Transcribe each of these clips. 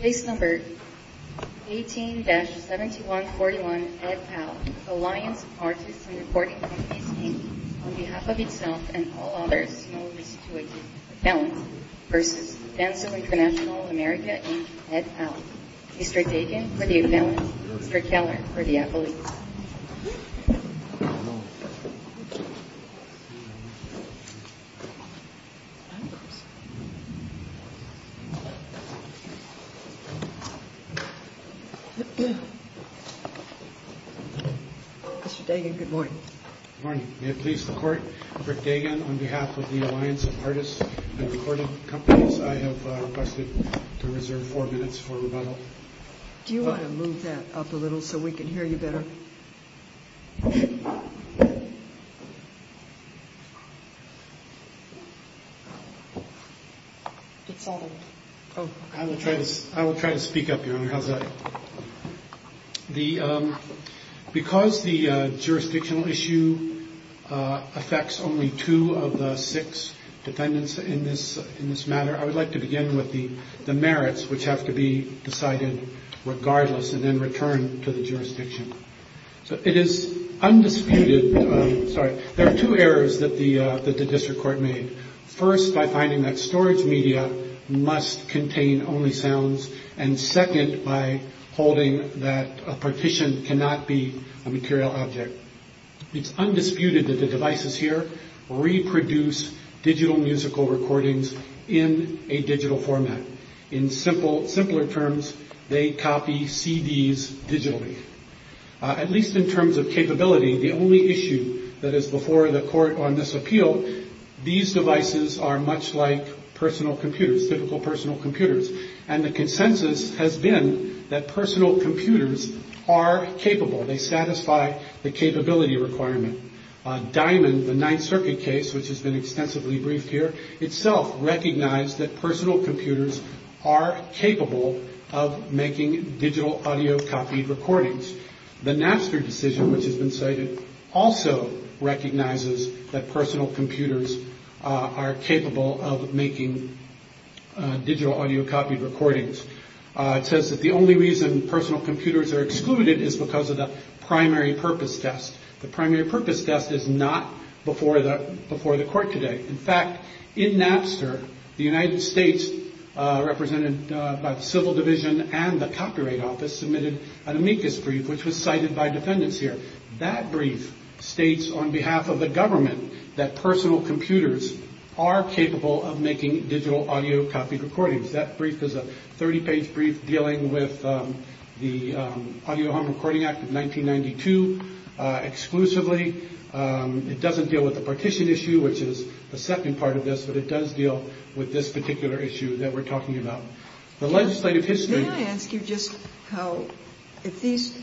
Case No. 18-7141, Ed Powell, Alliance of Artists and Recor v. Denso International America Mr. Dagan, good morning. Good morning. May it please the Court, Rick Dagan, on behalf of the Alliance of Artists and Recording Companies, I have requested to reserve four minutes for rebuttal. Do you want to move that up a little so we can hear you better? I will try to speak up, Your Honor. Because the jurisdictional issue affects only two of the six defendants in this matter, I would like to begin with the merits which have to be decided regardless and then returned to the jurisdiction. There are two errors that the District Court made. First, by finding that storage media must contain only sounds, and second, by holding that a partition cannot be a material object. It is undisputed that the devices here reproduce digital musical recordings in a digital format. In simpler terms, they copy CDs digitally. At least in terms of capability, the only issue that is before the Court on this appeal, these devices are much like personal computers, typical personal computers, and the consensus has been that personal computers are capable. They satisfy the capability requirement. Diamond, the Ninth Circuit case, which has been extensively briefed here, itself recognized that personal computers are capable of making digital audio copied recordings. The Napster decision, which has been cited, also recognizes that personal computers are capable of making digital audio copied recordings. It says that the only reason personal computers are excluded is because of the primary purpose test. The primary purpose test is not before the Court today. In fact, in Napster, the United States, represented by the Civil Division and the Copyright Office, submitted an amicus brief, which was cited by defendants here. That brief states on behalf of the government that personal computers are capable of making digital audio copied recordings. That brief is a 30-page brief dealing with the Audio Home Recording Act of 1992 exclusively. It doesn't deal with the partition issue, which is the second part of this, but it does deal with this particular issue that we're talking about. Can I ask you just how, if these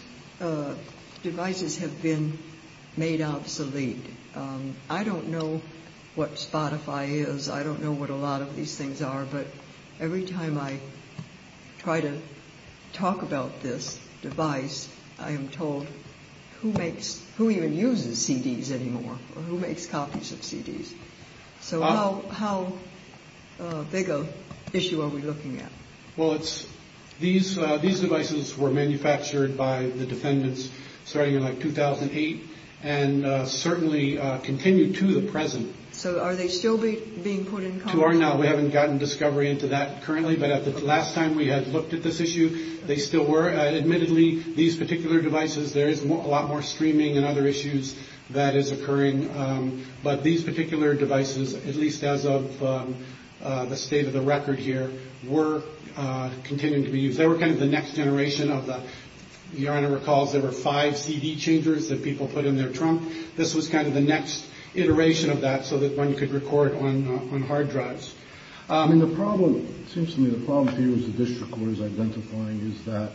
devices have been made obsolete, I don't know what Spotify is, I don't know what a lot of these things are, but every time I try to talk about this device, I am told who even uses CDs anymore or who makes copies of CDs. So how big of an issue are we looking at? Well, these devices were manufactured by the defendants starting in 2008 and certainly continue to the present. So are they still being put in contact? To our knowledge, we haven't gotten discovery into that currently, but at the last time we had looked at this issue, they still were. Admittedly, these particular devices, there is a lot more streaming and other issues that is occurring, but these particular devices, at least as of the state of the record here, were continuing to be used. They were kind of the next generation of that. The owner recalls there were five CD changers that people put in their trunk. This was kind of the next iteration of that so that one could record on hard drives. It seems to me the problem for you as a district court is identifying is that,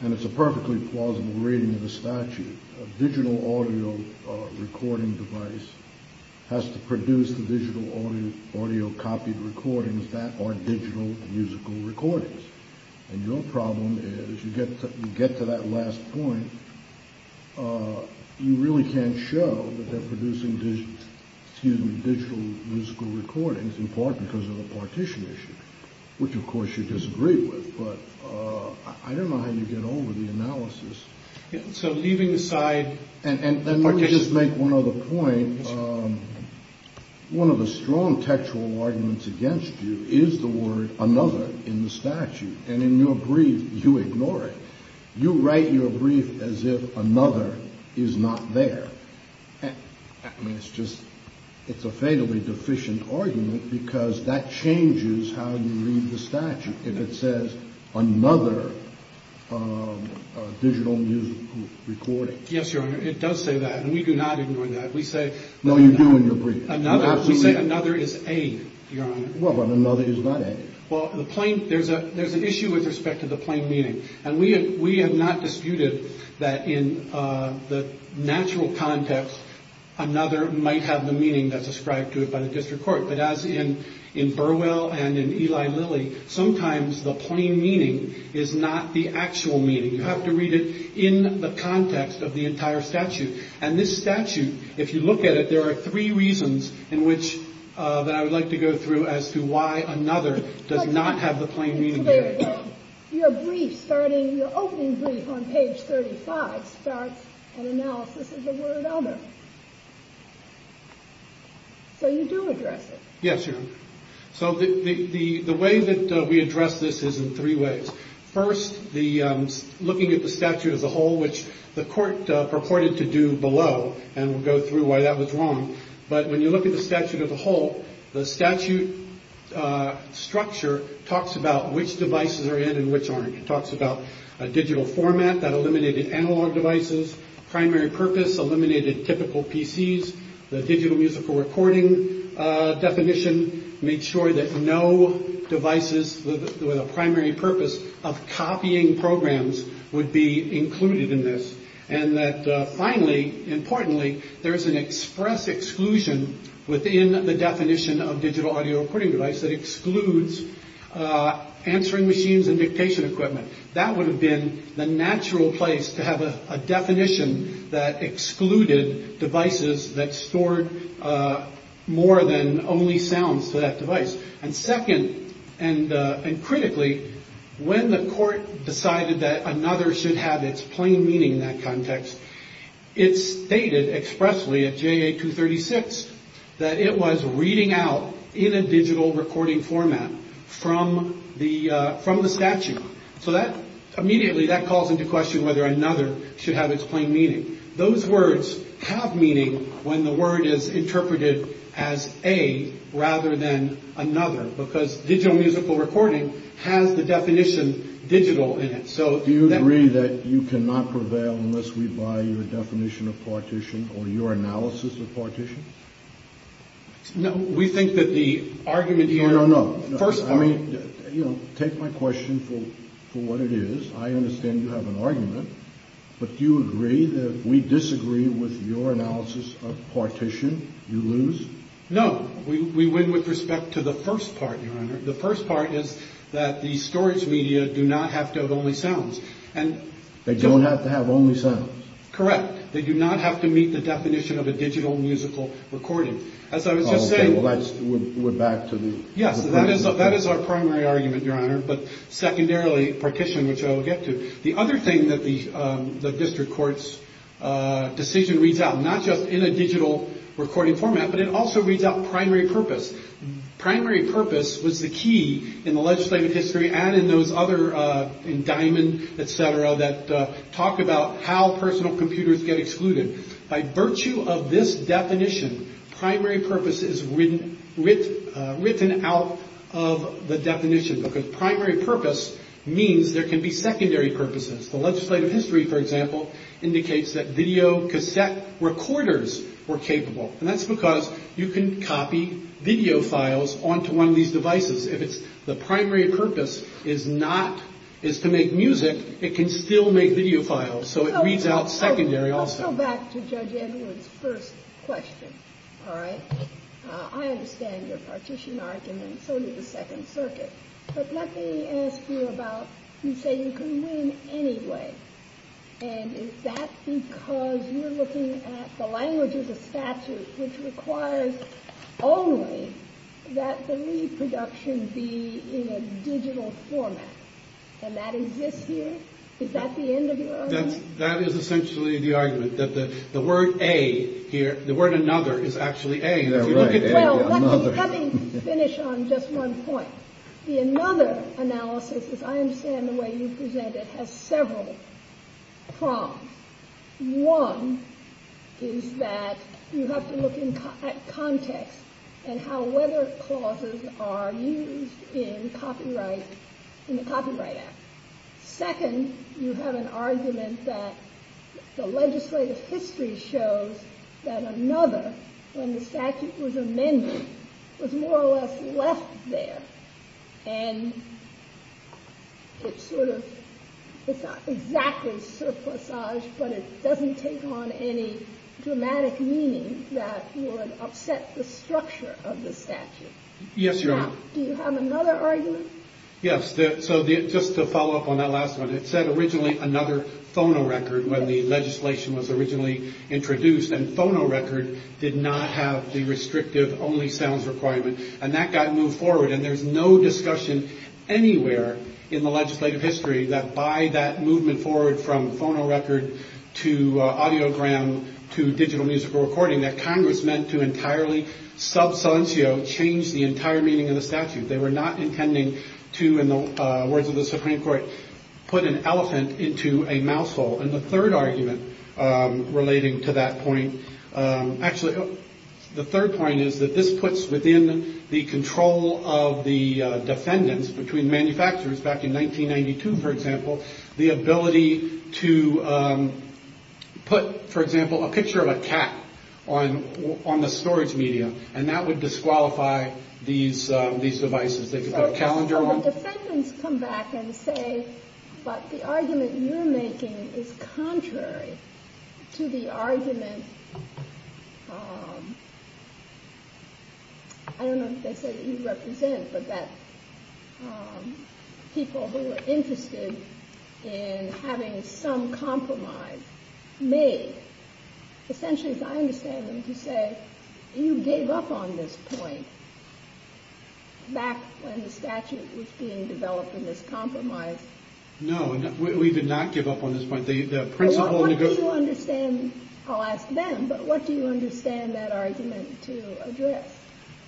and it's a perfectly plausible reading of the statute, a digital audio recording device has to produce the digital audio copied recordings that are digital musical recordings. And your problem is you get to that last point, you really can't show that they're producing digital musical recordings in part because of the partition issue, which of course you disagree with. But I don't know how you get over the analysis. So leaving aside the partition. Let me just make one other point. One of the strong textual arguments against you is the word another in the statute. And in your brief, you ignore it. You write your brief as if another is not there. I mean, it's just it's a fatally deficient argument because that changes how you read the statute. If it says another digital music recording. Yes, Your Honor. It does say that. And we do not ignore that. We say. No, you do in your brief. We say another is aid, Your Honor. Well, but another is not aid. There's a there's an issue with respect to the plain meaning. And we we have not disputed that in the natural context, another might have the meaning that's ascribed to it by the district court. But as in in Burwell and in Eli Lilly, sometimes the plain meaning is not the actual meaning. You have to read it in the context of the entire statute. And this statute, if you look at it, there are three reasons in which I would like to go through as to why another does not have the plain meaning. Your brief starting your opening brief on page 35 starts an analysis of the word other. So you do address it. Yes, Your Honor. So the way that we address this is in three ways. First, the looking at the statute as a whole, which the court purported to do below. And we'll go through why that was wrong. But when you look at the statute as a whole, the statute structure talks about which devices are in and which aren't. It talks about a digital format that eliminated analog devices. Eliminated typical PCs, the digital musical recording definition. Make sure that no devices with a primary purpose of copying programs would be included in this. And that finally, importantly, there is an express exclusion within the definition of digital audio recording device that excludes answering machines and dictation equipment. That would have been the natural place to have a definition that excluded devices that stored more than only sounds to that device. And second, and critically, when the court decided that another should have its plain meaning in that context, it stated expressly at J.A. 236 that it was reading out in a digital recording format from the from the statute. So that immediately that calls into question whether another should have its plain meaning. Those words have meaning when the word is interpreted as a rather than another, because digital musical recording has the definition digital. So do you agree that you cannot prevail unless we buy your definition of partition or your analysis of partition? No, we think that the argument here. No, no, no. First, I mean, you know, take my question for what it is. I understand you have an argument, but you agree that we disagree with your analysis of partition. You lose. No, we win with respect to the first part. The first part is that the storage media do not have to have only sounds and they don't have to have only sound. Correct. They do not have to meet the definition of a digital musical recording. As I was just saying, we're back to the. Yes, that is. That is our primary argument, Your Honor. But secondarily, partition, which I will get to. The other thing that the district court's decision reads out, not just in a digital recording format, but it also reads out primary purpose. Primary purpose was the key in the legislative history. And in those other diamond, et cetera, that talk about how personal computers get excluded by virtue of this definition. Primary purpose is written with written out of the definition because primary purpose means there can be secondary purposes. The legislative history, for example, indicates that video cassette recorders were capable. And that's because you can copy video files onto one of these devices. If it's the primary purpose is not is to make music, it can still make video files. So it reads out secondary also back to judge Edwards. First question. All right. I understand your partition argument. So do the Second Circuit. But let me ask you about you say you can win anyway. And is that because you're looking at the language of the statute, which requires only that the reproduction be in a digital format? And that is this year. Is that the end of that? That is essentially the argument that the word a here, the word another is actually a. Let me finish on just one point. The another analysis, as I understand the way you present it, has several problems. One is that you have to look at context and how weather clauses are used in copyright in the Copyright Act. Second, you have an argument that the legislative history shows that another when the statute was amended was more or less left there. And it's sort of it's not exactly surplus size, but it doesn't take on any dramatic meaning that would upset the structure of the statute. Yes, you're right. Do you have another argument? Yes. So just to follow up on that last one, it said originally another phonorecord when the legislation was originally introduced. And phonorecord did not have the restrictive only sounds requirement. And that got moved forward. And there's no discussion anywhere in the legislative history that by that movement forward from phonorecord to audiogram, to digital musical recording that Congress meant to entirely substantial change the entire meaning of the statute. They were not intending to, in the words of the Supreme Court, put an elephant into a mouthful. And the third argument relating to that point. Actually, the third point is that this puts within the control of the defendants between manufacturers back in 1992, for example, the ability to put, for example, a picture of a cat on the storage medium. And that would disqualify these these devices. They could put a calendar on them. The defendants come back and say, but the argument you're making is contrary to the argument. I don't know if they say that you represent, but that people who are interested in having some compromise made. Essentially, as I understand them to say, you gave up on this point. Back when the statute was being developed in this compromise. No, we did not give up on this point. What do you understand? I'll ask them. But what do you understand that argument to address?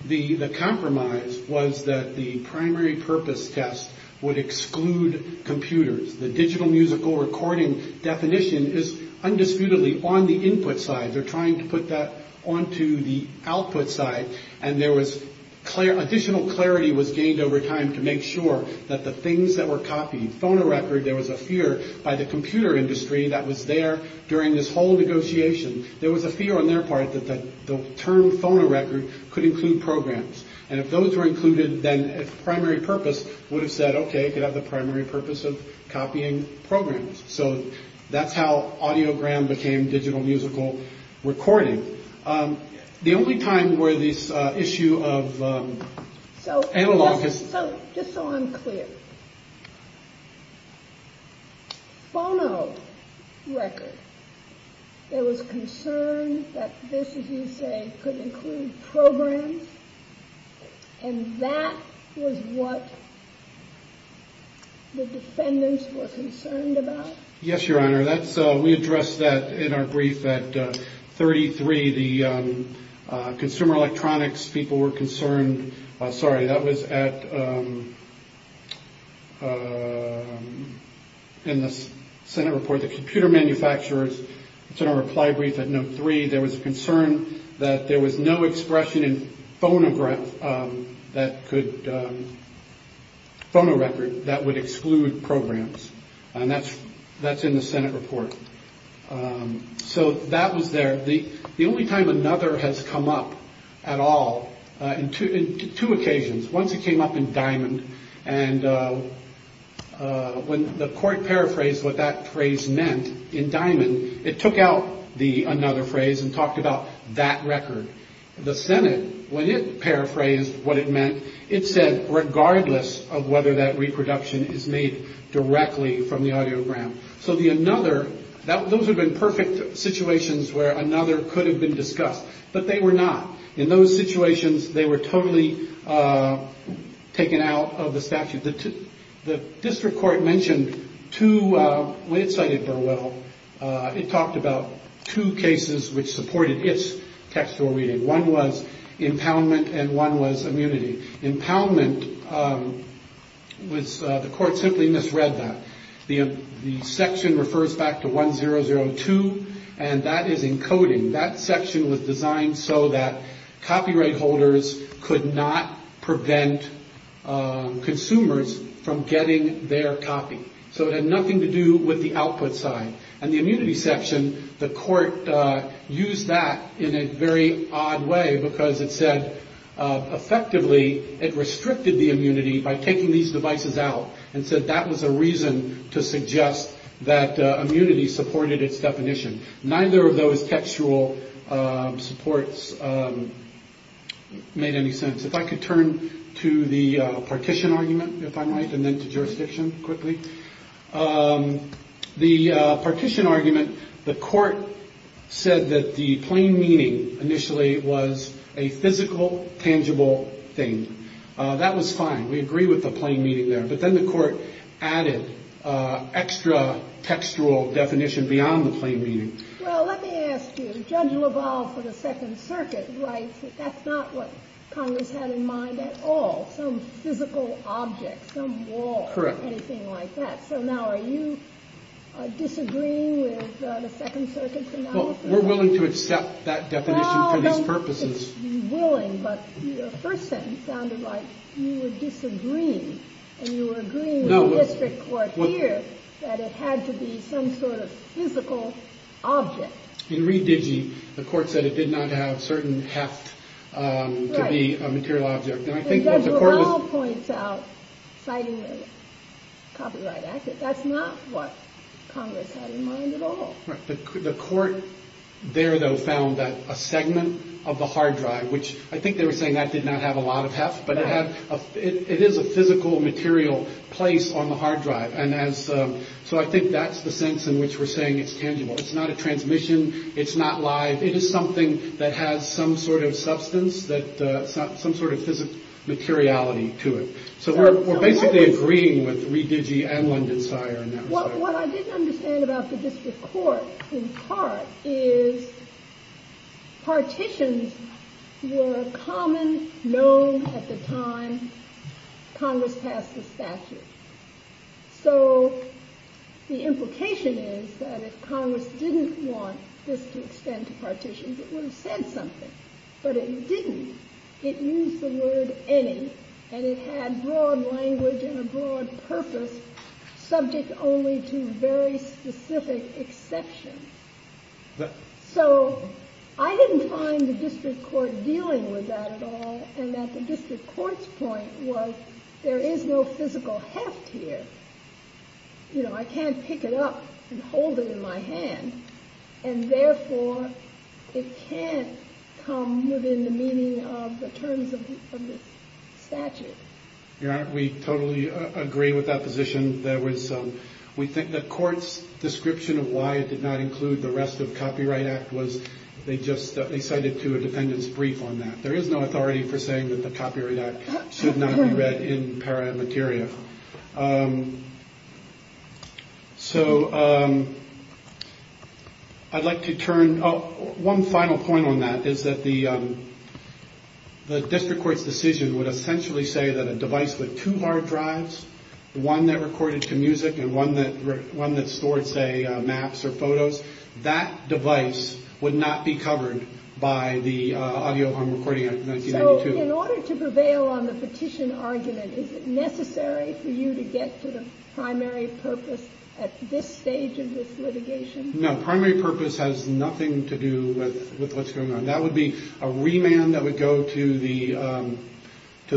The compromise was that the primary purpose test would exclude computers. The digital musical recording definition is undisputedly on the input side. They're trying to put that onto the output side. And there was clear additional clarity was gained over time to make sure that the things that were copied phonorecord. There was a fear by the computer industry that was there during this whole negotiation. There was a fear on their part that the term phonorecord could include programs. And if those were included, then primary purpose would have said, OK, could have the primary purpose of copying programs. So that's how audiogram became digital musical recording. The only time where this issue of analog. Just so I'm clear. Phono record. There was concern that this, as you say, could include programs. And that was what the defendants were concerned about. Yes, your honor, that's we addressed that in our brief at thirty three. The consumer electronics people were concerned. Sorry. That was at. In the Senate report, the computer manufacturers to reply brief at no three. There was a concern that there was no expression in phonograph that could. Phone a record that would exclude programs. And that's that's in the Senate report. So that was there. The only time another has come up at all in two occasions. Once it came up in Diamond and when the court paraphrased what that phrase meant in Diamond, it took out the another phrase and talked about that record. The Senate, when it paraphrased what it meant, it said regardless of whether that reproduction is made directly from the audiogram. So the another that those have been perfect situations where another could have been discussed. But they were not in those situations. They were totally taken out of the statute. The district court mentioned to when it cited Burwell, it talked about two cases which supported its textual reading. One was impoundment and one was immunity. Impoundment was the court simply misread that the section refers back to one zero zero two. And that is encoding that section was designed so that copyright holders could not prevent consumers from getting their copy. So it had nothing to do with the output side and the immunity section. The court used that in a very odd way because it said effectively it restricted the immunity by taking these devices out and said that was a reason to suggest that immunity supported its definition. Neither of those textual supports made any sense. If I could turn to the partition argument, if I might, and then to jurisdiction quickly. The partition argument, the court said that the plain meaning initially was a physical, tangible thing. That was fine. We agree with the plain meaning there. But then the court added extra textual definition beyond the plain meaning. Well, let me ask you, Judge LaValle for the Second Circuit writes that that's not what Congress had in mind at all. Some physical object, some wall or anything like that. So now are you disagreeing with the Second Circuit's analysis? We're willing to accept that definition for these purposes. But the first sentence sounded like you were disagreeing and you were agreeing with the district court here that it had to be some sort of physical object. In re-digi, the court said it did not have certain heft to be a material object. Judge LaValle points out, citing the Copyright Act, that that's not what Congress had in mind at all. The court there, though, found that a segment of the hard drive, which I think they were saying that did not have a lot of heft, but it is a physical material place on the hard drive. And so I think that's the sense in which we're saying it's tangible. It's not a transmission. It's not live. It is something that has some sort of substance, some sort of physical materiality to it. So we're basically agreeing with re-digi and Lindensteiner. What I didn't understand about the district court, in part, is partitions were common, known at the time Congress passed the statute. So the implication is that if Congress didn't want this to extend to partitions, it would have said something. But it didn't. It used the word any, and it had broad language and a broad purpose, subject only to very specific exceptions. So I didn't find the district court dealing with that at all, and that the district court's point was there is no physical heft here. I can't pick it up and hold it in my hand, and therefore it can't come within the meaning of the terms of the statute. Your Honor, we totally agree with that position. We think the court's description of why it did not include the rest of the Copyright Act was they just cited to a defendant's brief on that. There is no authority for saying that the Copyright Act should not be read in paramateria. So I'd like to turn... One final point on that is that the district court's decision would essentially say that a device with two hard drives, one that recorded to music and one that stored, say, maps or photos, that device would not be covered by the Audio Harm Recording Act of 1992. So in order to prevail on the petition argument, is it necessary for you to get to the primary purpose at this stage of this litigation? No, primary purpose has nothing to do with what's going on. That would be a remand that would go to the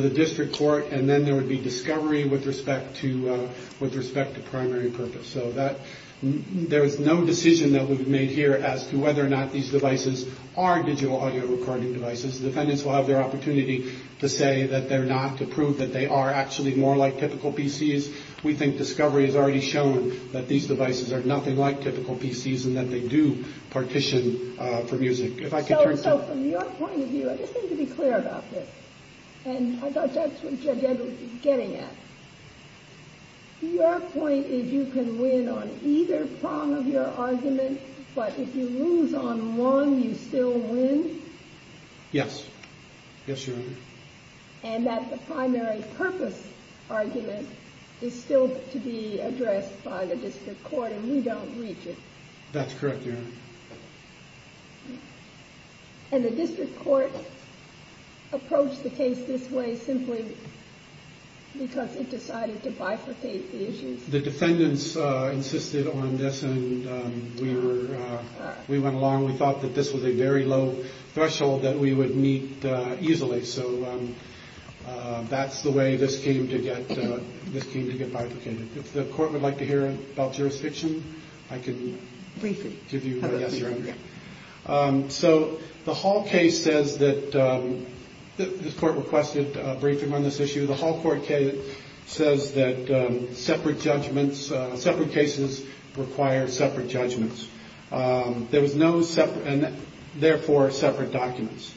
district court, and then there would be discovery with respect to primary purpose. So there is no decision that we've made here as to whether or not these devices are digital audio recording devices. The defendants will have their opportunity to say that they're not, to prove that they are actually more like typical PCs. We think discovery has already shown that these devices are nothing like typical PCs and that they do partition for music. So from your point of view, I just need to be clear about this, and I thought that's what Judge Edwards was getting at. Your point is you can win on either prong of your argument, but if you lose on one, you still win? Yes. Yes, Your Honor. And that the primary purpose argument is still to be addressed by the district court and we don't reach it? That's correct, Your Honor. And the district court approached the case this way simply because it decided to bifurcate the issues? The defendants insisted on this, and we went along. We thought that this was a very low threshold that we would meet easily, so that's the way this came to get bifurcated. If the court would like to hear about jurisdiction, I can give you a yes or a no. So the Hall case says that this court requested a briefing on this issue. The Hall court says that separate judgments, separate cases require separate judgments. There was no separate and therefore separate documents.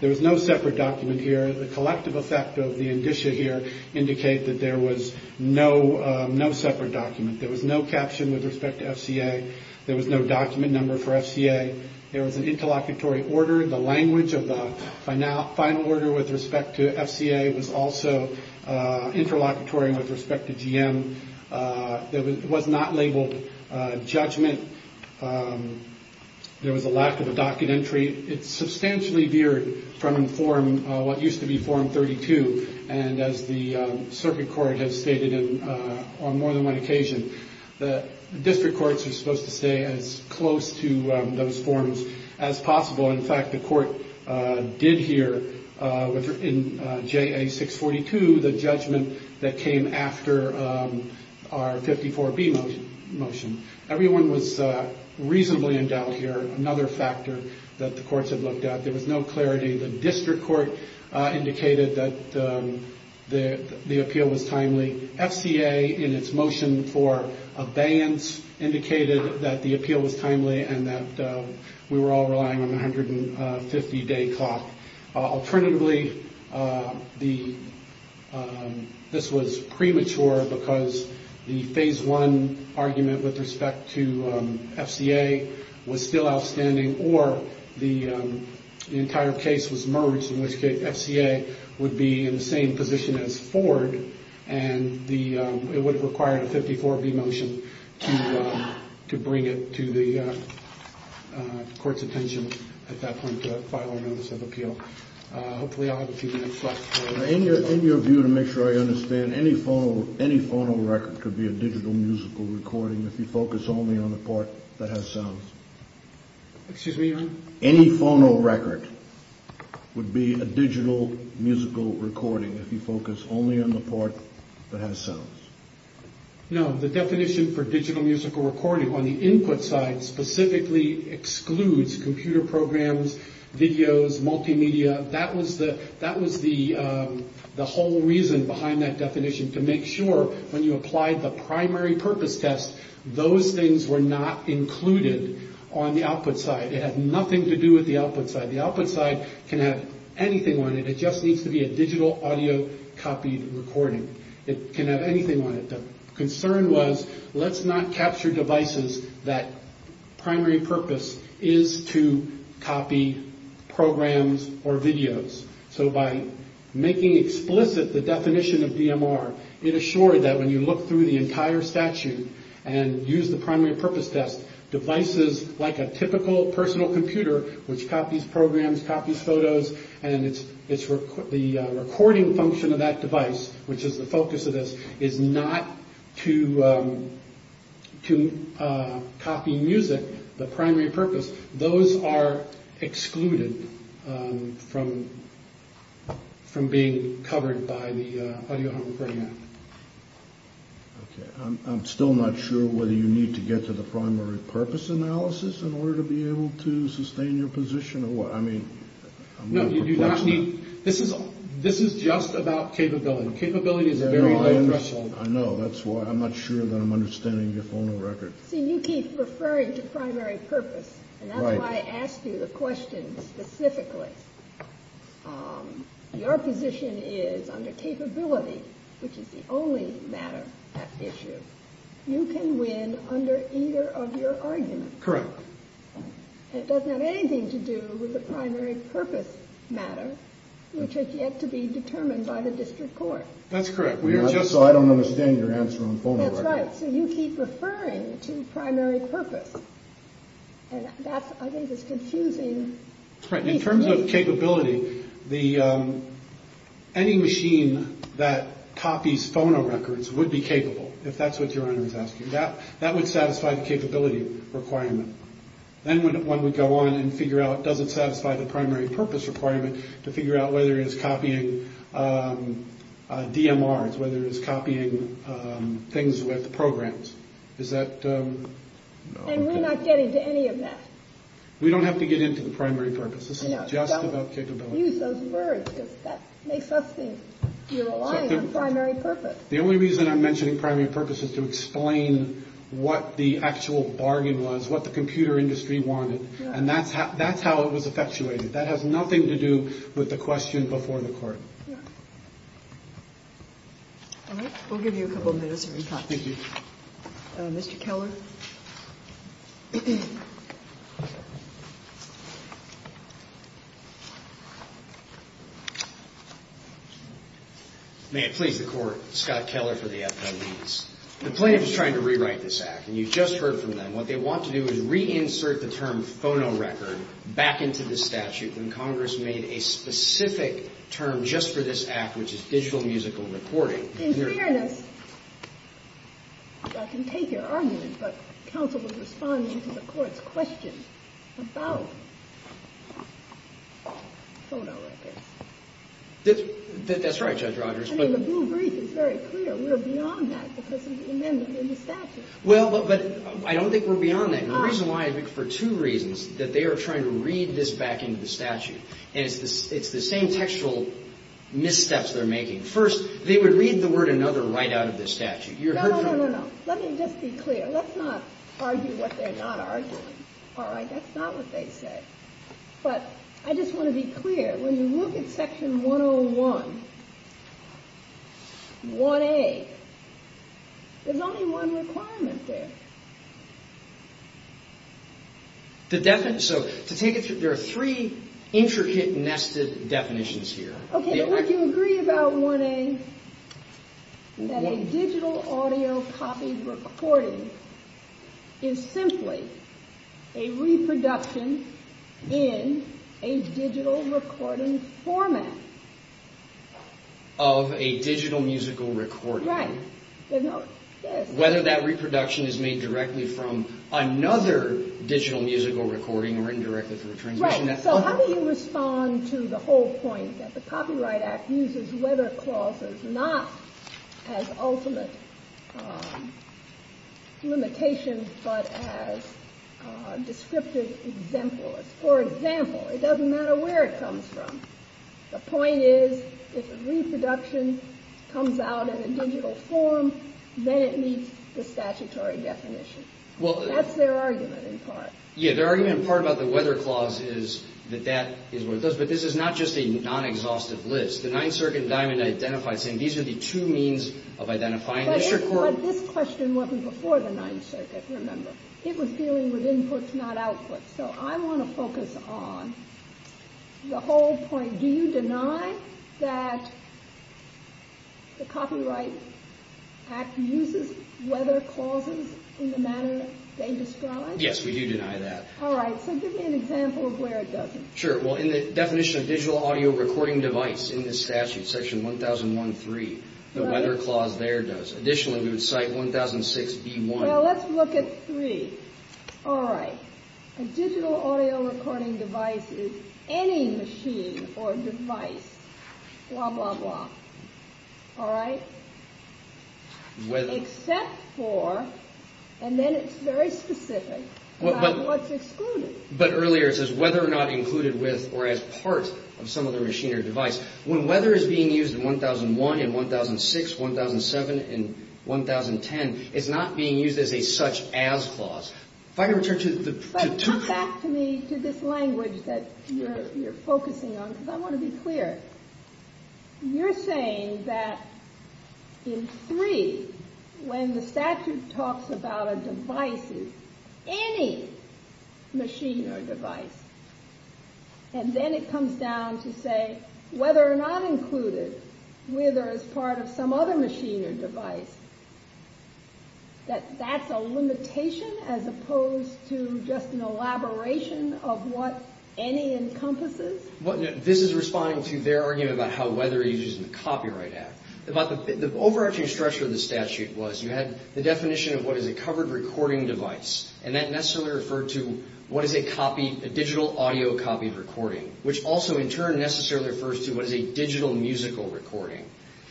There was no separate document here. The collective effect of the indicia here indicate that there was no separate document. There was no caption with respect to FCA. There was no document number for FCA. There was an interlocutory order. The language of the final order with respect to FCA was also interlocutory with respect to GM. It was not labeled judgment. There was a lack of a docket entry. It substantially veered from what used to be Form 32, and as the circuit court has stated on more than one occasion, the district courts are supposed to stay as close to those forms as possible. In fact, the court did hear in JA 642 the judgment that came after our 54B motion. Everyone was reasonably in doubt here, another factor that the courts had looked at. There was no clarity. The district court indicated that the appeal was timely. FCA, in its motion for abeyance, indicated that the appeal was timely and that we were all relying on a 150-day clock. Alternatively, this was premature because the Phase 1 argument with respect to FCA was still outstanding, or the entire case was merged, in which case FCA would be in the same position as Ford, and it would have required a 54B motion to bring it to the court's attention at that point to file our notice of appeal. Hopefully I'll have a few minutes left. In your view, to make sure I understand, any phono record could be a digital musical recording if you focus only on the part that has sound. Excuse me, Your Honor? Any phono record would be a digital musical recording if you focus only on the part that has sound. No, the definition for digital musical recording on the input side specifically excludes computer programs, videos, multimedia. That was the whole reason behind that definition, to make sure when you applied the primary purpose test, those things were not included on the output side. It had nothing to do with the output side. The output side can have anything on it. It just needs to be a digital audio copied recording. It can have anything on it. The concern was, let's not capture devices that primary purpose is to copy programs or videos. So by making explicit the definition of DMR, it assured that when you look through the entire statute and use the primary purpose test, devices like a typical personal computer, which copies programs, copies photos, and the recording function of that device, which is the focus of this, is not to copy music, the primary purpose. Those are excluded from being covered by the audio home program. Okay. I'm still not sure whether you need to get to the primary purpose analysis in order to be able to sustain your position or what. I mean. No, you do not need. This is this is just about capability. Capability is a very high threshold. I know. That's why I'm not sure that I'm understanding your phone record. So you keep referring to primary purpose. And that's why I asked you the question specifically. Your position is under capability, which is the only matter at issue. You can win under either of your arguments. Correct. It doesn't have anything to do with the primary purpose matter, which has yet to be determined by the district court. That's correct. That's right. So you keep referring to primary purpose. And that's I think it's confusing. Right. In terms of capability, the any machine that copies phone records would be capable, if that's what your honor is asking. That that would satisfy the capability requirement. Then when we go on and figure out, does it satisfy the primary purpose requirement to figure out whether it is copying DMRs, whether it is copying things with programs, is that. And we're not getting to any of that. We don't have to get into the primary purpose. This is not just about capability. Use those words because that makes us think you're relying on primary purpose. The only reason I'm mentioning primary purpose is to explain what the actual bargain was, what the computer industry wanted. And that's how that's how it was effectuated. That has nothing to do with the question before the court. All right. We'll give you a couple minutes. Thank you. Mr. Keller. May it please the Court. Scott Keller for the FBI leads. The plaintiff is trying to rewrite this act. And you just heard from them. What they want to do is reinsert the term phonorecord back into the statute when Congress made a specific term just for this act, which is digital musical recording. In fairness, I can take your argument. But counsel will respond to the court's question about phonorecords. That's right, Judge Rogers. I mean, the blue brief is very clear. We're beyond that because of the amendment in the statute. Well, but I don't think we're beyond that. And the reason why is for two reasons, that they are trying to read this back into the statute. And it's the same textual missteps they're making. First, they would read the word another right out of the statute. You heard from them. No, no, no, no. Let me just be clear. Let's not argue what they're not arguing. All right. That's not what they said. But I just want to be clear. When you look at Section 101, 1A, there's only one requirement there. So to take it through, there are three intricate, nested definitions here. Okay. Do you agree about 1A, that a digital audio copy recording is simply a reproduction in a digital recording format? Of a digital musical recording. Right. Whether that reproduction is made directly from another digital musical recording or indirectly from a transmission. Right. So how do you respond to the whole point that the Copyright Act uses whether clauses not as ultimate limitations but as descriptive exemplars? For example, it doesn't matter where it comes from. The point is, if a reproduction comes out in a digital form, then it meets the statutory definition. That's their argument in part. Yeah. Their argument in part about the weather clause is that that is what it does. But this is not just a non-exhaustive list. The Ninth Circuit in Diamond identified saying these are the two means of identifying district court. But this question wasn't before the Ninth Circuit, remember. It was dealing with inputs, not outputs. So I want to focus on the whole point. Do you deny that the Copyright Act uses whether clauses in the manner they describe? Yes, we do deny that. All right. So give me an example of where it doesn't. Sure. Well, in the definition of digital audio recording device in the statute, section 1001.3, the whether clause there does. Additionally, we would cite 1006.B.1. Well, let's look at 3. All right. A digital audio recording device is any machine or device. Blah, blah, blah. All right. Except for, and then it's very specific, not what's excluded. But earlier it says whether or not included with or as part of some other machine or device. When whether is being used in 1001 and 1006, 1007 and 1010, it's not being used as a such-as clause. If I can return to the two. But come back to me to this language that you're focusing on, because I want to be clear. You're saying that in 3, when the statute talks about a device as any machine or device, and then it comes down to say whether or not included with or as part of some other machine or device, that that's a limitation as opposed to just an elaboration of what any encompasses? This is responding to their argument about how whether you're using the Copyright Act. The overarching structure of the statute was you had the definition of what is a covered recording device, and that necessarily referred to what is a digital audio copied recording, which also in turn necessarily refers to what is a digital musical recording.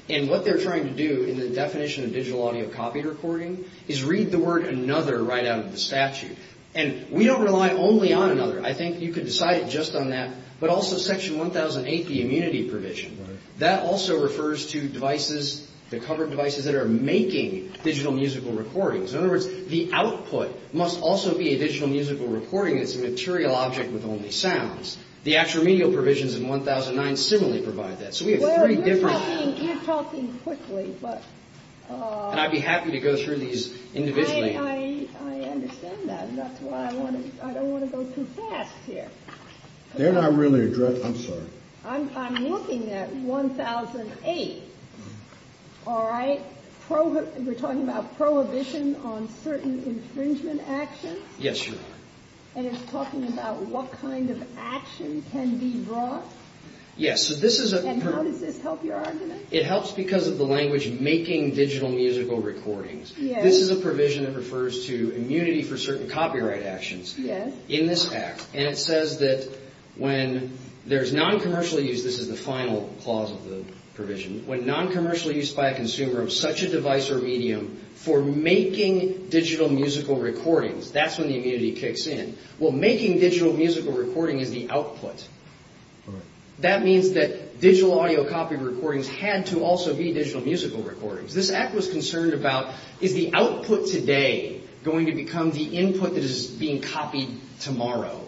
And what they're trying to do in the definition of digital audio copied recording is read the word another right out of the statute. And we don't rely only on another. I think you could decide just on that. But also Section 1008, the immunity provision, that also refers to devices, the covered devices that are making digital musical recordings. In other words, the output must also be a digital musical recording. It's a material object with only sounds. The actual remedial provisions in 1009 similarly provide that. So we have three different – Well, you're talking quickly, but – And I'd be happy to go through these individually. I understand that. That's why I want to – I don't want to go too fast here. They're not really – I'm sorry. I'm looking at 1008. All right? We're talking about prohibition on certain infringement actions? Yes, Your Honor. And it's talking about what kind of action can be brought? Yes. And how does this help your argument? It helps because of the language making digital musical recordings. This is a provision that refers to immunity for certain copyright actions in this act. And it says that when there's non-commercial use – this is the final clause of the provision – when non-commercial use by a consumer of such a device or medium for making digital musical recordings, that's when the immunity kicks in. Well, making digital musical recording is the output. That means that digital audio copy recordings had to also be digital musical recordings. This act was concerned about, is the output today going to become the input that is being copied tomorrow?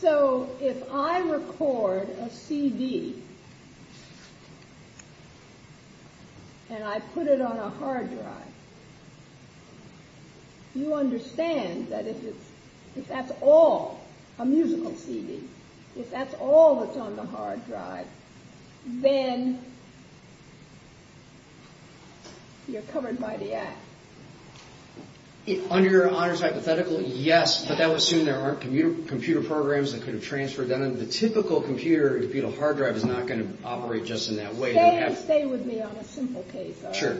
So if I record a CD and I put it on a hard drive, you understand that if that's all – a musical CD – if that's all that's on the hard drive, then you're covered by the act. Under your honors hypothetical, yes. But that would assume there aren't computer programs that could have transferred that into the typical computer. A computer hard drive is not going to operate just in that way. Stay with me on a simple case, though. Sure.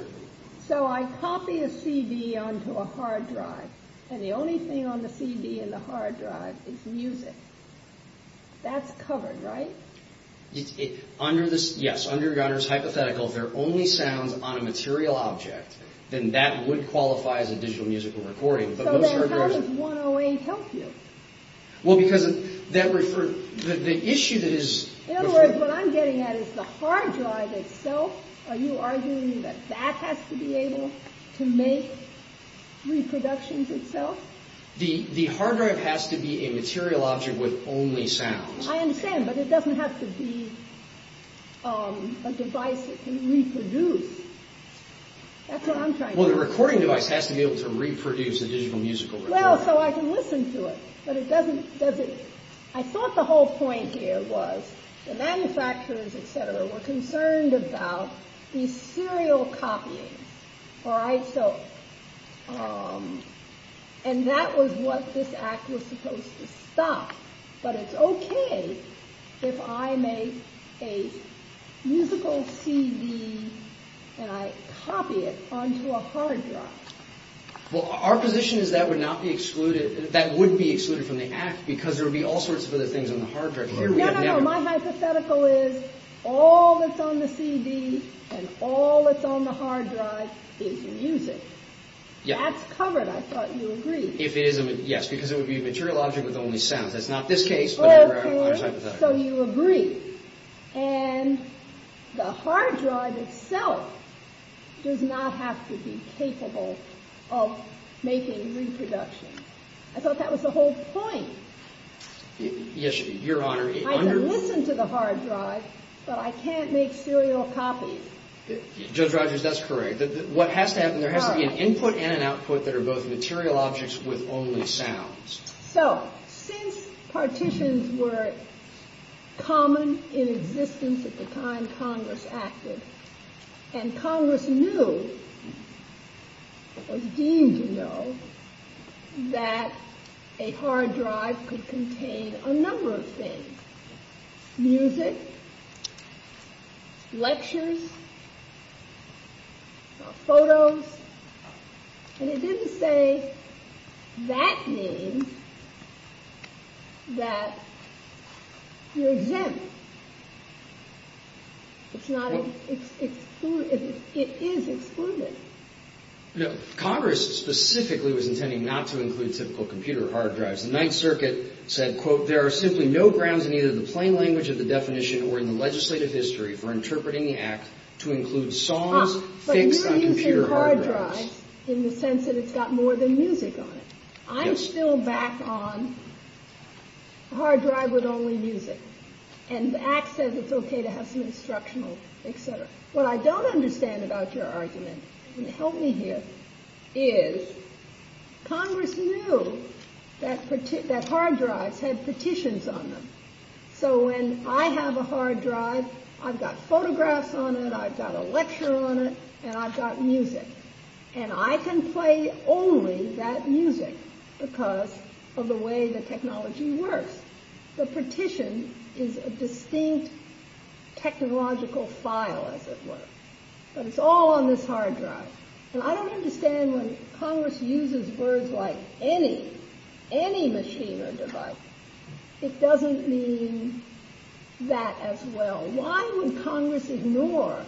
So I copy a CD onto a hard drive, and the only thing on the CD in the hard drive is music. That's covered, right? Yes, under your honors hypothetical, if there are only sounds on a material object, then that would qualify as a digital musical recording. So then how does 108 help you? Well, because the issue that is – In other words, what I'm getting at is the hard drive itself, are you arguing that that has to be able to make reproductions itself? The hard drive has to be a material object with only sounds. I understand, but it doesn't have to be a device that can reproduce. That's what I'm trying to say. Well, the recording device has to be able to reproduce a digital musical recording. Well, so I can listen to it, but it doesn't – I thought the whole point here was the manufacturers, etc., were concerned about these serial copyings, all right? And that was what this act was supposed to stop. But it's okay if I make a musical CD and I copy it onto a hard drive. Well, our position is that would not be excluded – that would be excluded from the act because there would be all sorts of other things on the hard drive. No, no, no. My hypothetical is all that's on the CD and all that's on the hard drive is music. That's covered. I thought you agreed. Yes, because it would be a material object with only sounds. That's not this case, but our hypothetical. So you agree. And the hard drive itself does not have to be capable of making reproduction. I thought that was the whole point. Yes, Your Honor. I can listen to the hard drive, but I can't make serial copies. Judge Rogers, that's correct. What has to happen, there has to be an input and an output that are both material objects with only sounds. So, since partitions were common in existence at the time Congress acted, and Congress knew, was deemed to know, that a hard drive could contain a number of things – music, lectures, photos. And it didn't say that means that you're exempt. It is excluded. Congress specifically was intending not to include typical computer hard drives. The Ninth Circuit said, quote, there are simply no grounds in either the plain language of the definition or in the legislative history for interpreting the Act to include songs fixed on computer hard drives. In the sense that it's got more than music on it. I'm still back on hard drive with only music. And the Act says it's okay to have some instructional, et cetera. What I don't understand about your argument, and help me here, is Congress knew that hard drives had petitions on them. So when I have a hard drive, I've got photographs on it, I've got a lecture on it, and I've got music. And I can play only that music because of the way the technology works. The petition is a distinct technological file, as it were. But it's all on this hard drive. And I don't understand why Congress uses words like any, any machine or device. It doesn't mean that as well. Why would Congress ignore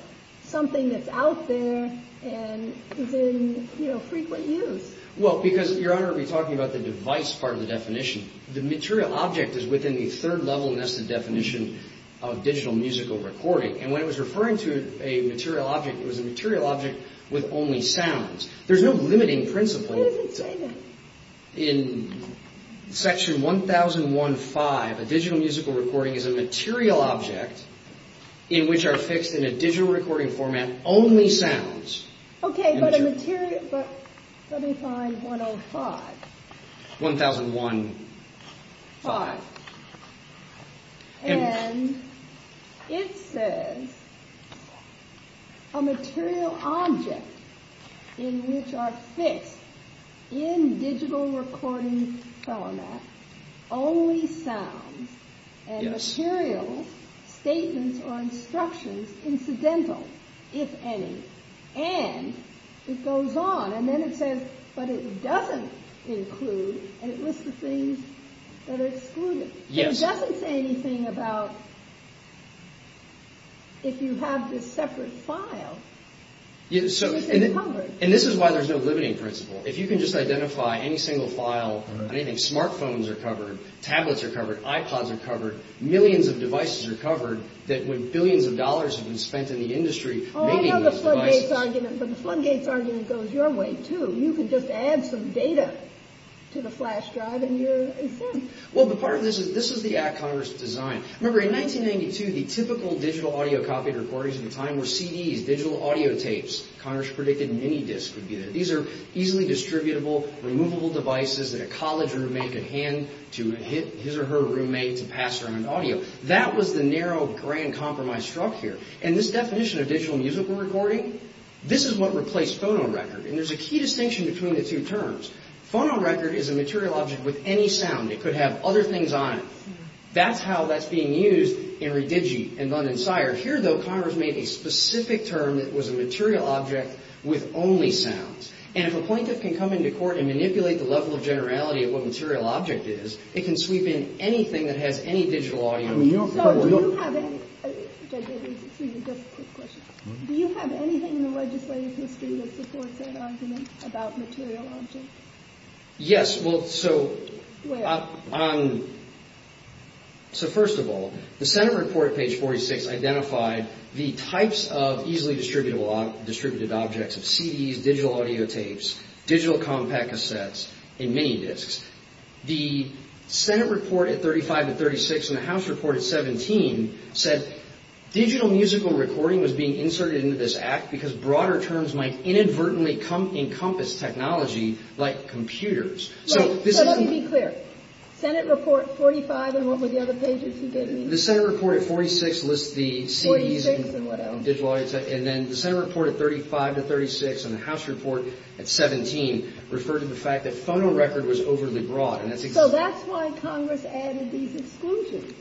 something that's out there and is in, you know, frequent use? Well, because, Your Honor, we're talking about the device part of the definition. The material object is within the third level nested definition of digital musical recording. And when it was referring to a material object, it was a material object with only sounds. There's no limiting principle. Where does it say that? In section 1015, a digital musical recording is a material object in which are fixed in a digital recording format, only sounds. Okay, but a material, but let me find 105. 1005. All right. And it says a material object in which are fixed in digital recording format, only sounds and materials, statements or instructions, incidental, if any. And it goes on. And then it says, but it doesn't include, and it lists the things that are excluded. Yes. It doesn't say anything about if you have this separate file. And this is why there's no limiting principle. If you can just identify any single file, anything, smart phones are covered, tablets are covered, iPods are covered, millions of devices are covered that when billions of dollars have been spent in the industry making those devices. But the floodgates argument goes your way, too. You can just add some data to the flash drive and you're set. Well, the part of this is this is the act Congress designed. Remember, in 1992, the typical digital audio copied recordings of the time were CDs, digital audio tapes. Congress predicted mini-discs would be there. These are easily distributable, removable devices that a college roommate could hand to his or her roommate to pass around audio. That was the narrow grand compromise struck here. And this definition of digital musical recording, this is what replaced phonorecord. And there's a key distinction between the two terms. Phonorecord is a material object with any sound. It could have other things on it. That's how that's being used in Redigi and Lund and Sire. Here, though, Congress made a specific term that was a material object with only sounds. And if a plaintiff can come into court and manipulate the level of generality of what material object is, it can sweep in anything that has any digital audio. Do you have anything in the legislative history that supports that argument about material objects? Yes. Where? First of all, the Senate report at page 46 identified the types of easily distributed objects of CDs, digital audio tapes, digital compact cassettes, and mini-discs. The Senate report at 35 to 36 and the House report at 17 said digital musical recording was being inserted into this act because broader terms might inadvertently encompass technology like computers. So let me be clear. Senate report 45 and what were the other pages you gave me? The Senate report at 46 lists the CDs and digital audio tapes. And then the Senate report at 35 to 36 and the House report at 17 referred to the fact that phonorecord was overly broad. So that's why Congress added these exclusions.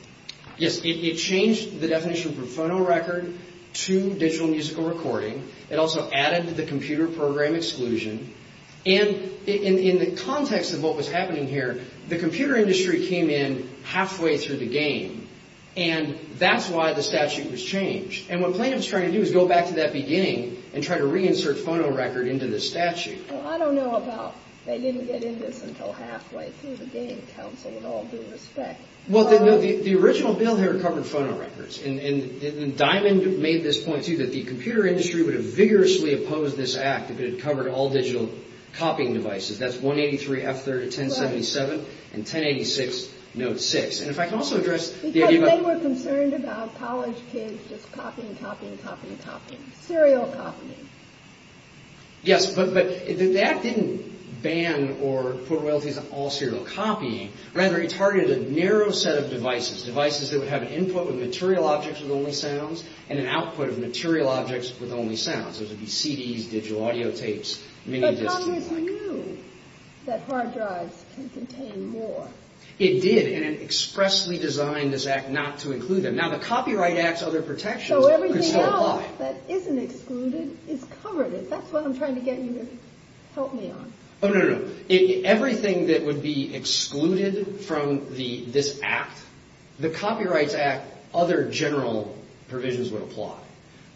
Yes. It changed the definition for phonorecord to digital musical recording. It also added the computer program exclusion. And in the context of what was happening here, the computer industry came in halfway through the game. And that's why the statute was changed. And what plaintiffs are trying to do is go back to that beginning and try to reinsert phonorecord into the statute. Well, I don't know about they didn't get into this until halfway through the game, counsel, with all due respect. Well, the original bill here covered phonorecords. And Diamond made this point, too, that the computer industry would have vigorously opposed this act if it had covered all digital copying devices. That's 183 F3 to 1077 and 1086 note 6. And if I can also address the idea about Because they were concerned about college kids just copying, copying, copying, copying. Serial copying. Yes, but the act didn't ban or put royalties on all serial copying. Rather, it targeted a narrow set of devices, devices that would have an input with material objects with only sounds and an output of material objects with only sounds. Those would be CDs, digital audio tapes, mini discs and the like. But Congress knew that hard drives can contain more. It did, and it expressly designed this act not to include them. Now, the Copyright Act's other protections could still apply. The act that isn't excluded is covered. If that's what I'm trying to get you to help me on. Oh, no, no, no. Everything that would be excluded from this act, the Copyrights Act, other general provisions would apply.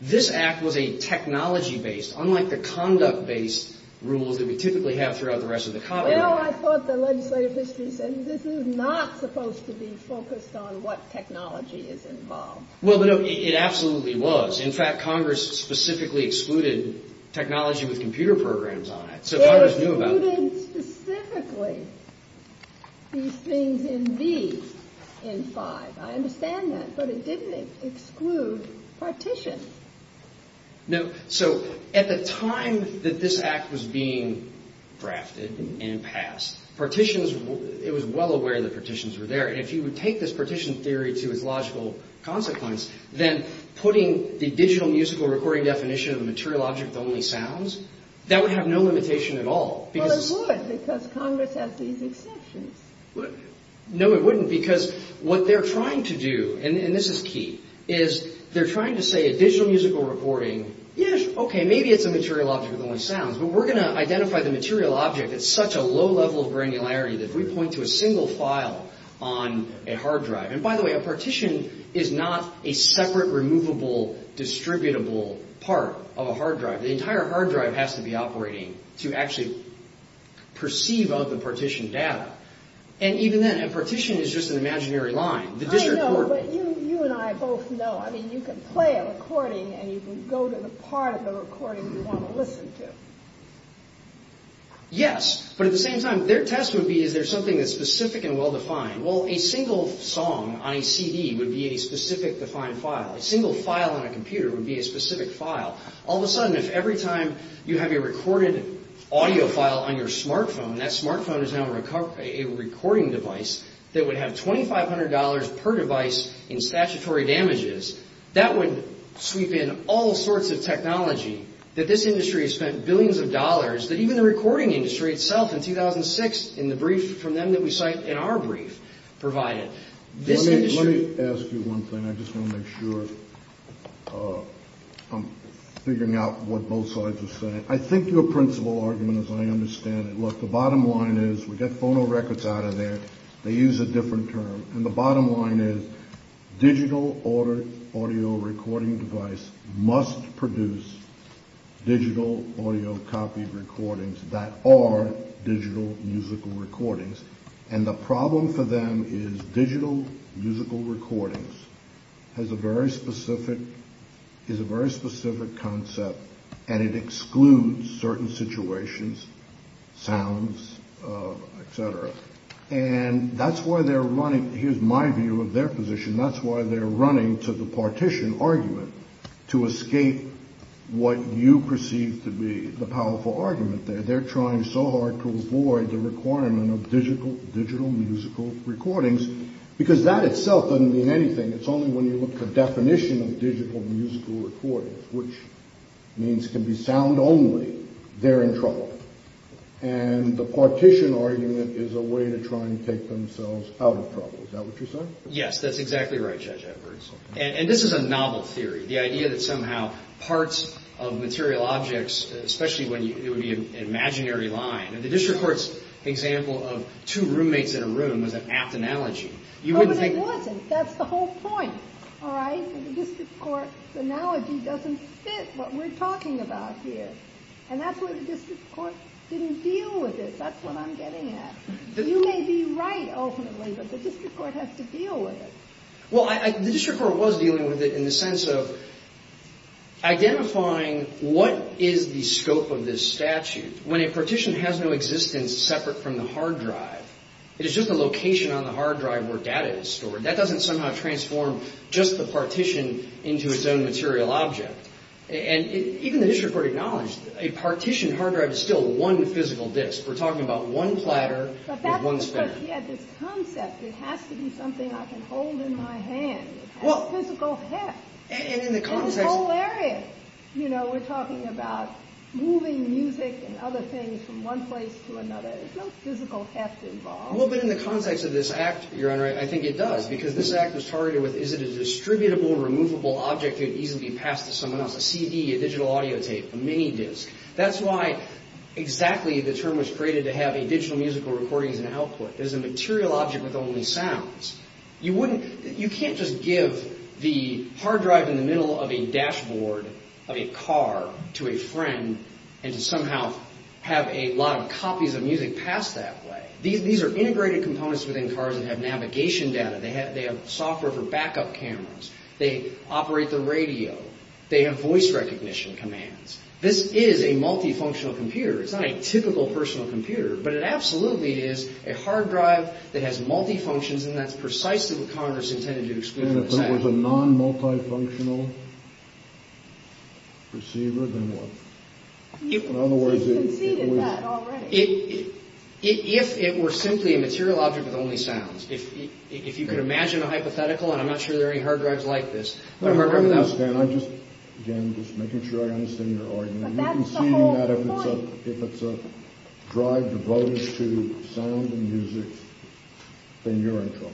This act was a technology-based, unlike the conduct-based rules that we typically have throughout the rest of the Copyright Act. Well, I thought the legislative history said this is not supposed to be focused on what technology is involved. Well, no, it absolutely was. In fact, Congress specifically excluded technology with computer programs on it. So Congress knew about that. It excluded specifically these things in B in 5. I understand that, but it didn't exclude partitions. No, so at the time that this act was being drafted and passed, partitions, it was well aware that partitions were there. And if you would take this partition theory to its logical consequence, then putting the digital musical recording definition of a material object with only sounds, that would have no limitation at all. Well, it would, because Congress has these exceptions. No, it wouldn't, because what they're trying to do, and this is key, is they're trying to say a digital musical recording, yes, okay, maybe it's a material object with only sounds, but we're going to identify the material object at such a low level of granularity that if we point to a single file on a hard drive, and by the way, a partition is not a separate, removable, distributable part of a hard drive. The entire hard drive has to be operating to actually perceive all the partition data. And even then, a partition is just an imaginary line. I know, but you and I both know. I mean, you can play a recording and you can go to the part of the recording you want to listen to. Yes, but at the same time, their test would be is there something that's specific and well-defined. Well, a single song on a CD would be a specific, defined file. A single file on a computer would be a specific file. All of a sudden, if every time you have a recorded audio file on your smartphone, that smartphone is now a recording device that would have $2,500 per device in statutory damages, that would sweep in all sorts of technology that this industry has spent billions of dollars, that even the recording industry itself in 2006, in the brief from them that we cite in our brief, provided. Let me ask you one thing. I just want to make sure I'm figuring out what both sides are saying. I think your principal argument, as I understand it, look, the bottom line is we get phonorecords out of there. They use a different term. The bottom line is digital audio recording device must produce digital audio copy recordings that are digital musical recordings. The problem for them is digital musical recordings is a very specific concept, and it excludes certain situations, sounds, et cetera. That's why they're running, here's my view of their position, that's why they're running to the partition argument to escape what you perceive to be the powerful argument there. They're trying so hard to avoid the requirement of digital musical recordings, because that itself doesn't mean anything. It's only when you look at the definition of digital musical recordings, which means it can be sound only, they're in trouble. And the partition argument is a way to try and take themselves out of trouble. Is that what you're saying? Yes, that's exactly right, Judge Edwards. And this is a novel theory, the idea that somehow parts of material objects, especially when it would be an imaginary line, and the district court's example of two roommates in a room was an apt analogy. Oh, but it wasn't. That's the whole point, all right? The district court's analogy doesn't fit what we're talking about here. And that's why the district court didn't deal with it. That's what I'm getting at. You may be right, ultimately, but the district court has to deal with it. Well, the district court was dealing with it in the sense of identifying what is the scope of this statute. When a partition has no existence separate from the hard drive, it is just the location on the hard drive where data is stored. That doesn't somehow transform just the partition into its own material object. And even the district court acknowledged a partitioned hard drive is still one physical disk. We're talking about one platter with one span. But that's because he had this concept. It has to be something I can hold in my hand. It has physical heft in this whole area. You know, we're talking about moving music and other things from one place to another. There's no physical heft involved. Well, but in the context of this act, Your Honor, I think it does, because this act was targeted with is it a distributable, removable object that could easily be passed to someone else, a CD, a digital audio tape, a mini disk. That's why exactly the term was created to have a digital musical recording as an output. There's a material object with only sounds. You can't just give the hard drive in the middle of a dashboard of a car to a friend and to somehow have a lot of copies of music passed that way. These are integrated components within cars that have navigation data. They have software for backup cameras. They operate the radio. They have voice recognition commands. This is a multifunctional computer. It's not a typical personal computer, but it absolutely is a hard drive that has multifunctions, and that's precisely what Congress intended to exclude in this act. And if it was a non-multifunctional receiver, then what? You conceded that already. If it were simply a material object with only sounds, if you could imagine a hypothetical, and I'm not sure there are any hard drives like this. I understand. I'm just, again, just making sure I understand your argument. You're conceding that if it's a drive devoted to sound and music, then you're in trouble.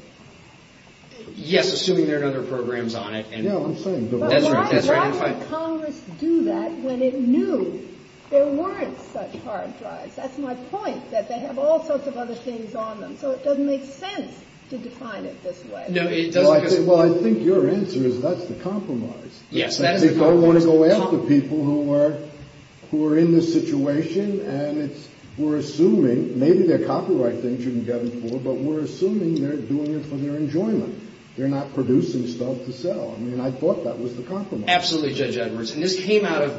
Yes, assuming there are other programs on it. Yeah, I'm saying devoted. But why would Congress do that when it knew there weren't such hard drives? That's my point, that they have all sorts of other things on them. So it doesn't make sense to define it this way. No, it doesn't. Well, I think your answer is that's the compromise. Yes, that is the compromise. They don't want to go after people who are in this situation, and we're assuming maybe there are copyright things you can get them for, but we're assuming they're doing it for their enjoyment. They're not producing stuff to sell. I mean, I thought that was the compromise. Absolutely, Judge Edwards. But I would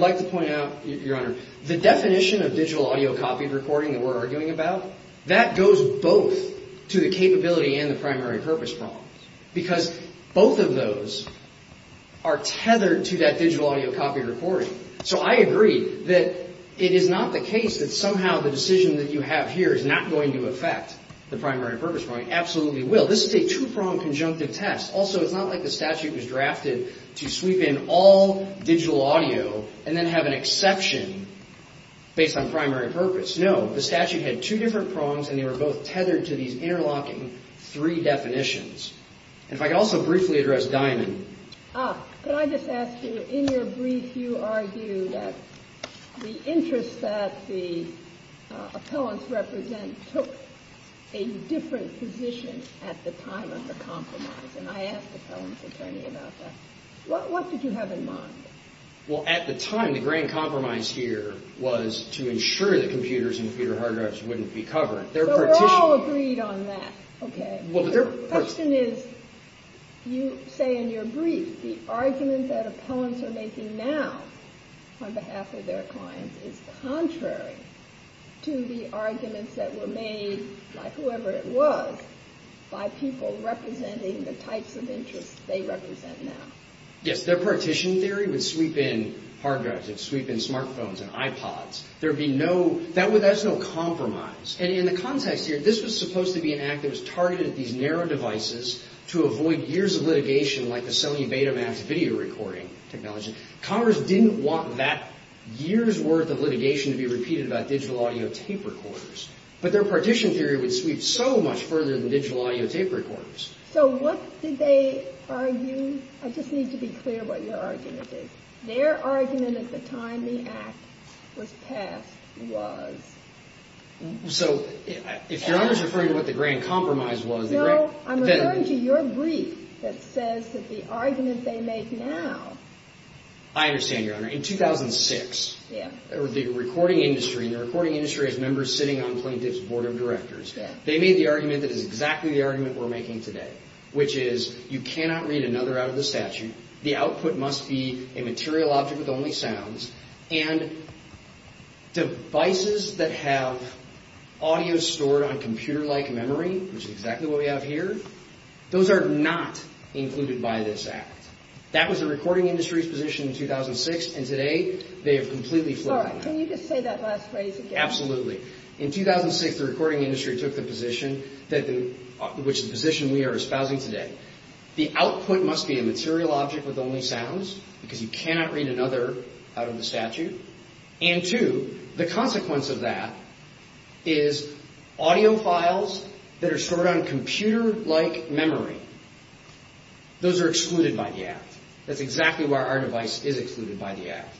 like to point out, Your Honor, the definition of digital audio copied recording that we're arguing about, that goes both to the capability and the primary purpose problems, because both of those are tethered to that digital audio copied recording. that's going to be able to do that. that you have here is not going to affect the primary purpose problem. It absolutely will. This is a two-pronged conjunctive test. Also, it's not like the statute was drafted to sweep in all digital audio and then have an exception based on primary purpose. No, the statute had two different prongs, and they were both tethered to these interlocking three definitions. And if I could also briefly address Diamond. Could I just ask you, in your brief, you argue that the interest that the appellants represent took a different position at the time of the compromise, and I asked the appellant's attorney about that. What did you have in mind? Well, at the time, the grand compromise here was to ensure that computers and computer hard drives wouldn't be covered. So we're all agreed on that. Okay. The question is, you say in your brief, the argument that appellants are making now on behalf of their clients is contrary to the arguments that were made by whoever it was by people representing the types of interests they represent now. Yes, their partition theory would sweep in hard drives. It would sweep in smartphones and iPods. There would be no compromise. And in the context here, this was supposed to be an act that was targeted at these narrow devices to avoid years of litigation like the cellular beta mass video recording technology. Congress didn't want that year's worth of litigation to be repeated about digital audio tape recorders. But their partition theory would sweep so much further than digital audio tape recorders. So what did they argue? I just need to be clear what your argument is. Their argument at the time the act was passed So if Your Honor is referring to what the grand compromise was... No, I'm referring to your brief that says that the argument they make now... I understand, Your Honor. In 2006, the recording industry, and the recording industry has members sitting on plaintiff's board of directors, they made the argument that is exactly the argument we're making today, which is you cannot read another out of the statute, the output must be a material object with only sounds, and devices that have audio stored on computer-like memory, which is exactly what we have here, those are not included by this act. That was the recording industry's position in 2006, and today they have completely flooded that. Can you just say that last phrase again? Absolutely. In 2006, the recording industry took the position which is the position we are espousing today. The output must be a material object with only sounds, because you cannot read another out of the statute, and two, the consequence of that is audio files that are stored on computer-like memory. Those are excluded by the act. That's exactly why our device is excluded by the act.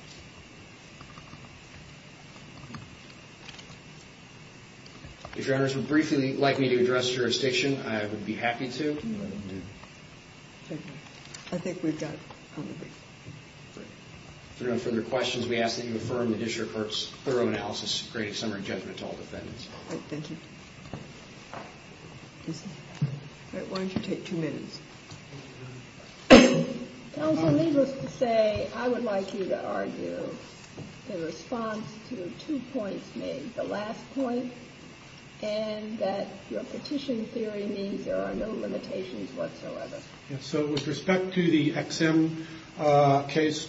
If Your Honors would briefly like me to address jurisdiction, I would be happy to. Thank you. I think we've got time. If there are no further questions, we ask that you affirm the district court's thorough analysis to create a summary judgment to all defendants. Thank you. Why don't you take two minutes? Counsel, needless to say, I would like you to argue the response to two points made, and that your petition theory means there are no limitations whatsoever. So with respect to the XM case,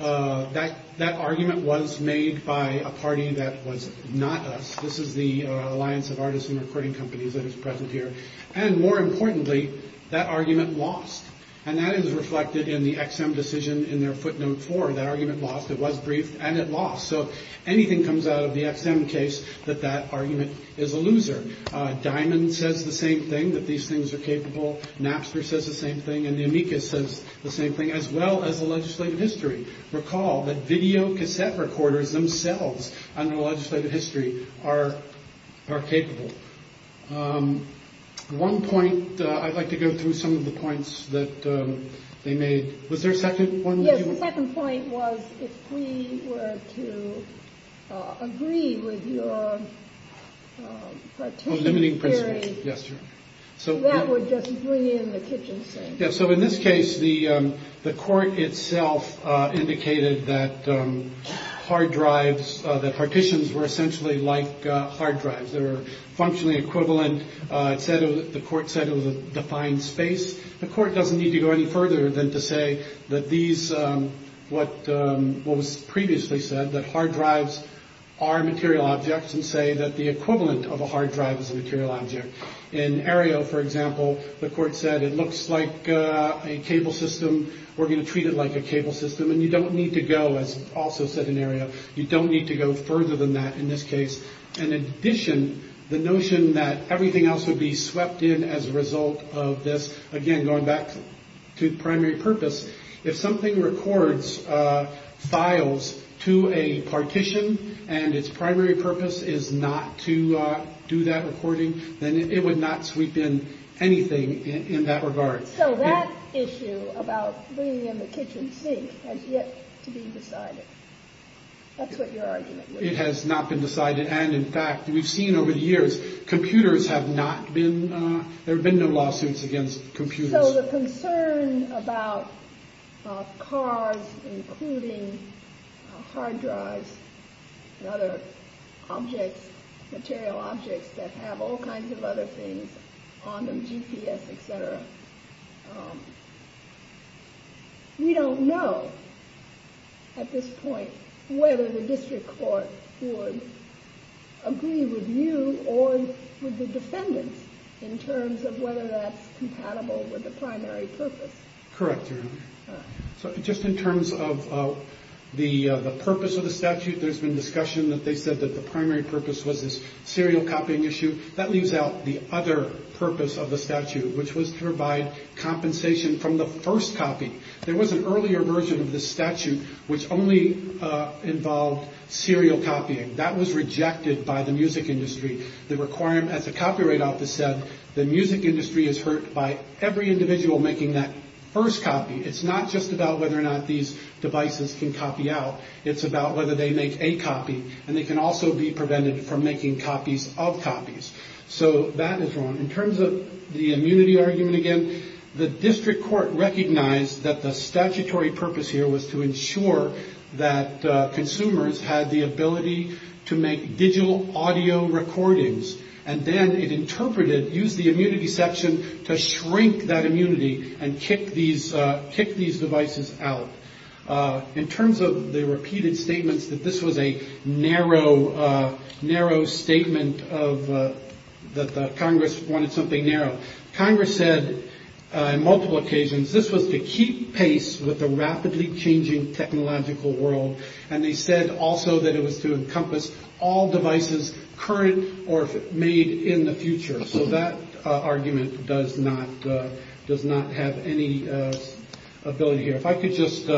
that argument was made by a party that was not us. This is the Alliance of Artists and Recording Companies that is present here. And more importantly, that argument lost. And that is reflected in the XM decision in their footnote four. That argument lost. It was briefed, and it lost. So if anything comes out of the XM case, that that argument is a loser. Diamond says the same thing, that these things are capable. Napster says the same thing. And the amicus says the same thing, as well as the legislative history. Recall that video cassette recorders themselves under the legislative history are capable. One point, I'd like to go through some of the points that they made. Was there a second one? Yes, the second point was if we were to agree with your limiting principle, that would just bring in the kitchen sink. So in this case, the court itself indicated that hard drives, that partitions were essentially like hard drives. They were functionally equivalent. The court said it was a defined space. The court doesn't need to go any further than to say that these, what was previously said, that hard drives are material objects and say that the equivalent of a hard drive is a material object. In Aereo, for example, the court said it looks like a cable system. We're going to treat it like a cable system. And you don't need to go, as also said in Aereo, you don't need to go further than that in this case. In addition, the notion that everything else would be swept in as a result of this, again, going back to the primary purpose. If something records files to a partition and its primary purpose is not to do that recording, then it would not sweep in anything in that regard. So that issue about bringing in the kitchen sink has yet to be decided. That's what your argument was. It has not been decided. And in fact, we've seen over the years, computers have not been, there have been no lawsuits against computers. So the concern about cars, including hard drives and other objects, material objects that have all kinds of other things on them, GPS, et cetera. We don't know at this point whether the district court would agree with you or with the defendants in terms of whether that's compatible with the primary purpose. Correct, Your Honor. So just in terms of the purpose of the statute, there's been discussion that they said that the primary purpose was this serial copying issue. That leaves out the other purpose of the statute, which was to provide compensation from the first copy. There was an earlier version of the statute which only involved serial copying. That was rejected by the music industry. They require, as the Copyright Office said, the music industry is hurt by every individual making that first copy. It's not just about whether or not these devices can copy out. It's about whether they make a copy. And they can also be prevented from making copies of copies. So that is wrong. In terms of the immunity argument again, the district court recognized that the statutory purpose here was to ensure that consumers had the ability to make digital audio recordings. And then it interpreted, used the immunity section to shrink that immunity and kick these devices out. In terms of the repeated statements that this was a narrow, narrow statement of that, the Congress wanted something narrow. Congress said on multiple occasions this was to keep pace with the rapidly changing technological world. And they said also that it was to encompass all devices current or made in the future. So that argument does not does not have any ability here. If I could just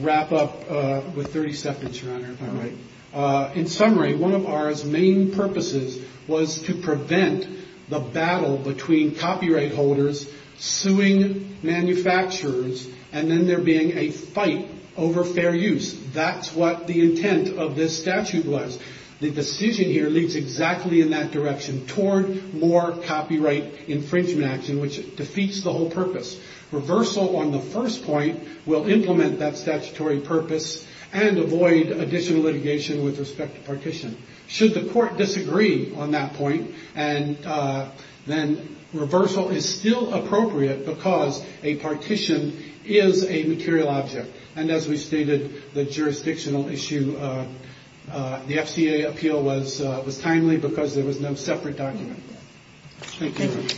wrap up with 30 seconds, Your Honor, if I might. In summary, one of ours main purposes was to prevent the battle between copyright holders suing manufacturers and then there being a fight over fair use. That's what the intent of this statute was. The decision here leads exactly in that direction toward more copyright infringement action, which defeats the whole purpose. Reversal on the first point will implement that statutory purpose and avoid additional litigation with respect to partition. Should the court disagree on that point and then reversal is still appropriate because a partition is a material object. And as we stated, the jurisdictional issue, the FDA appeal was timely because there was no separate document. Thank you.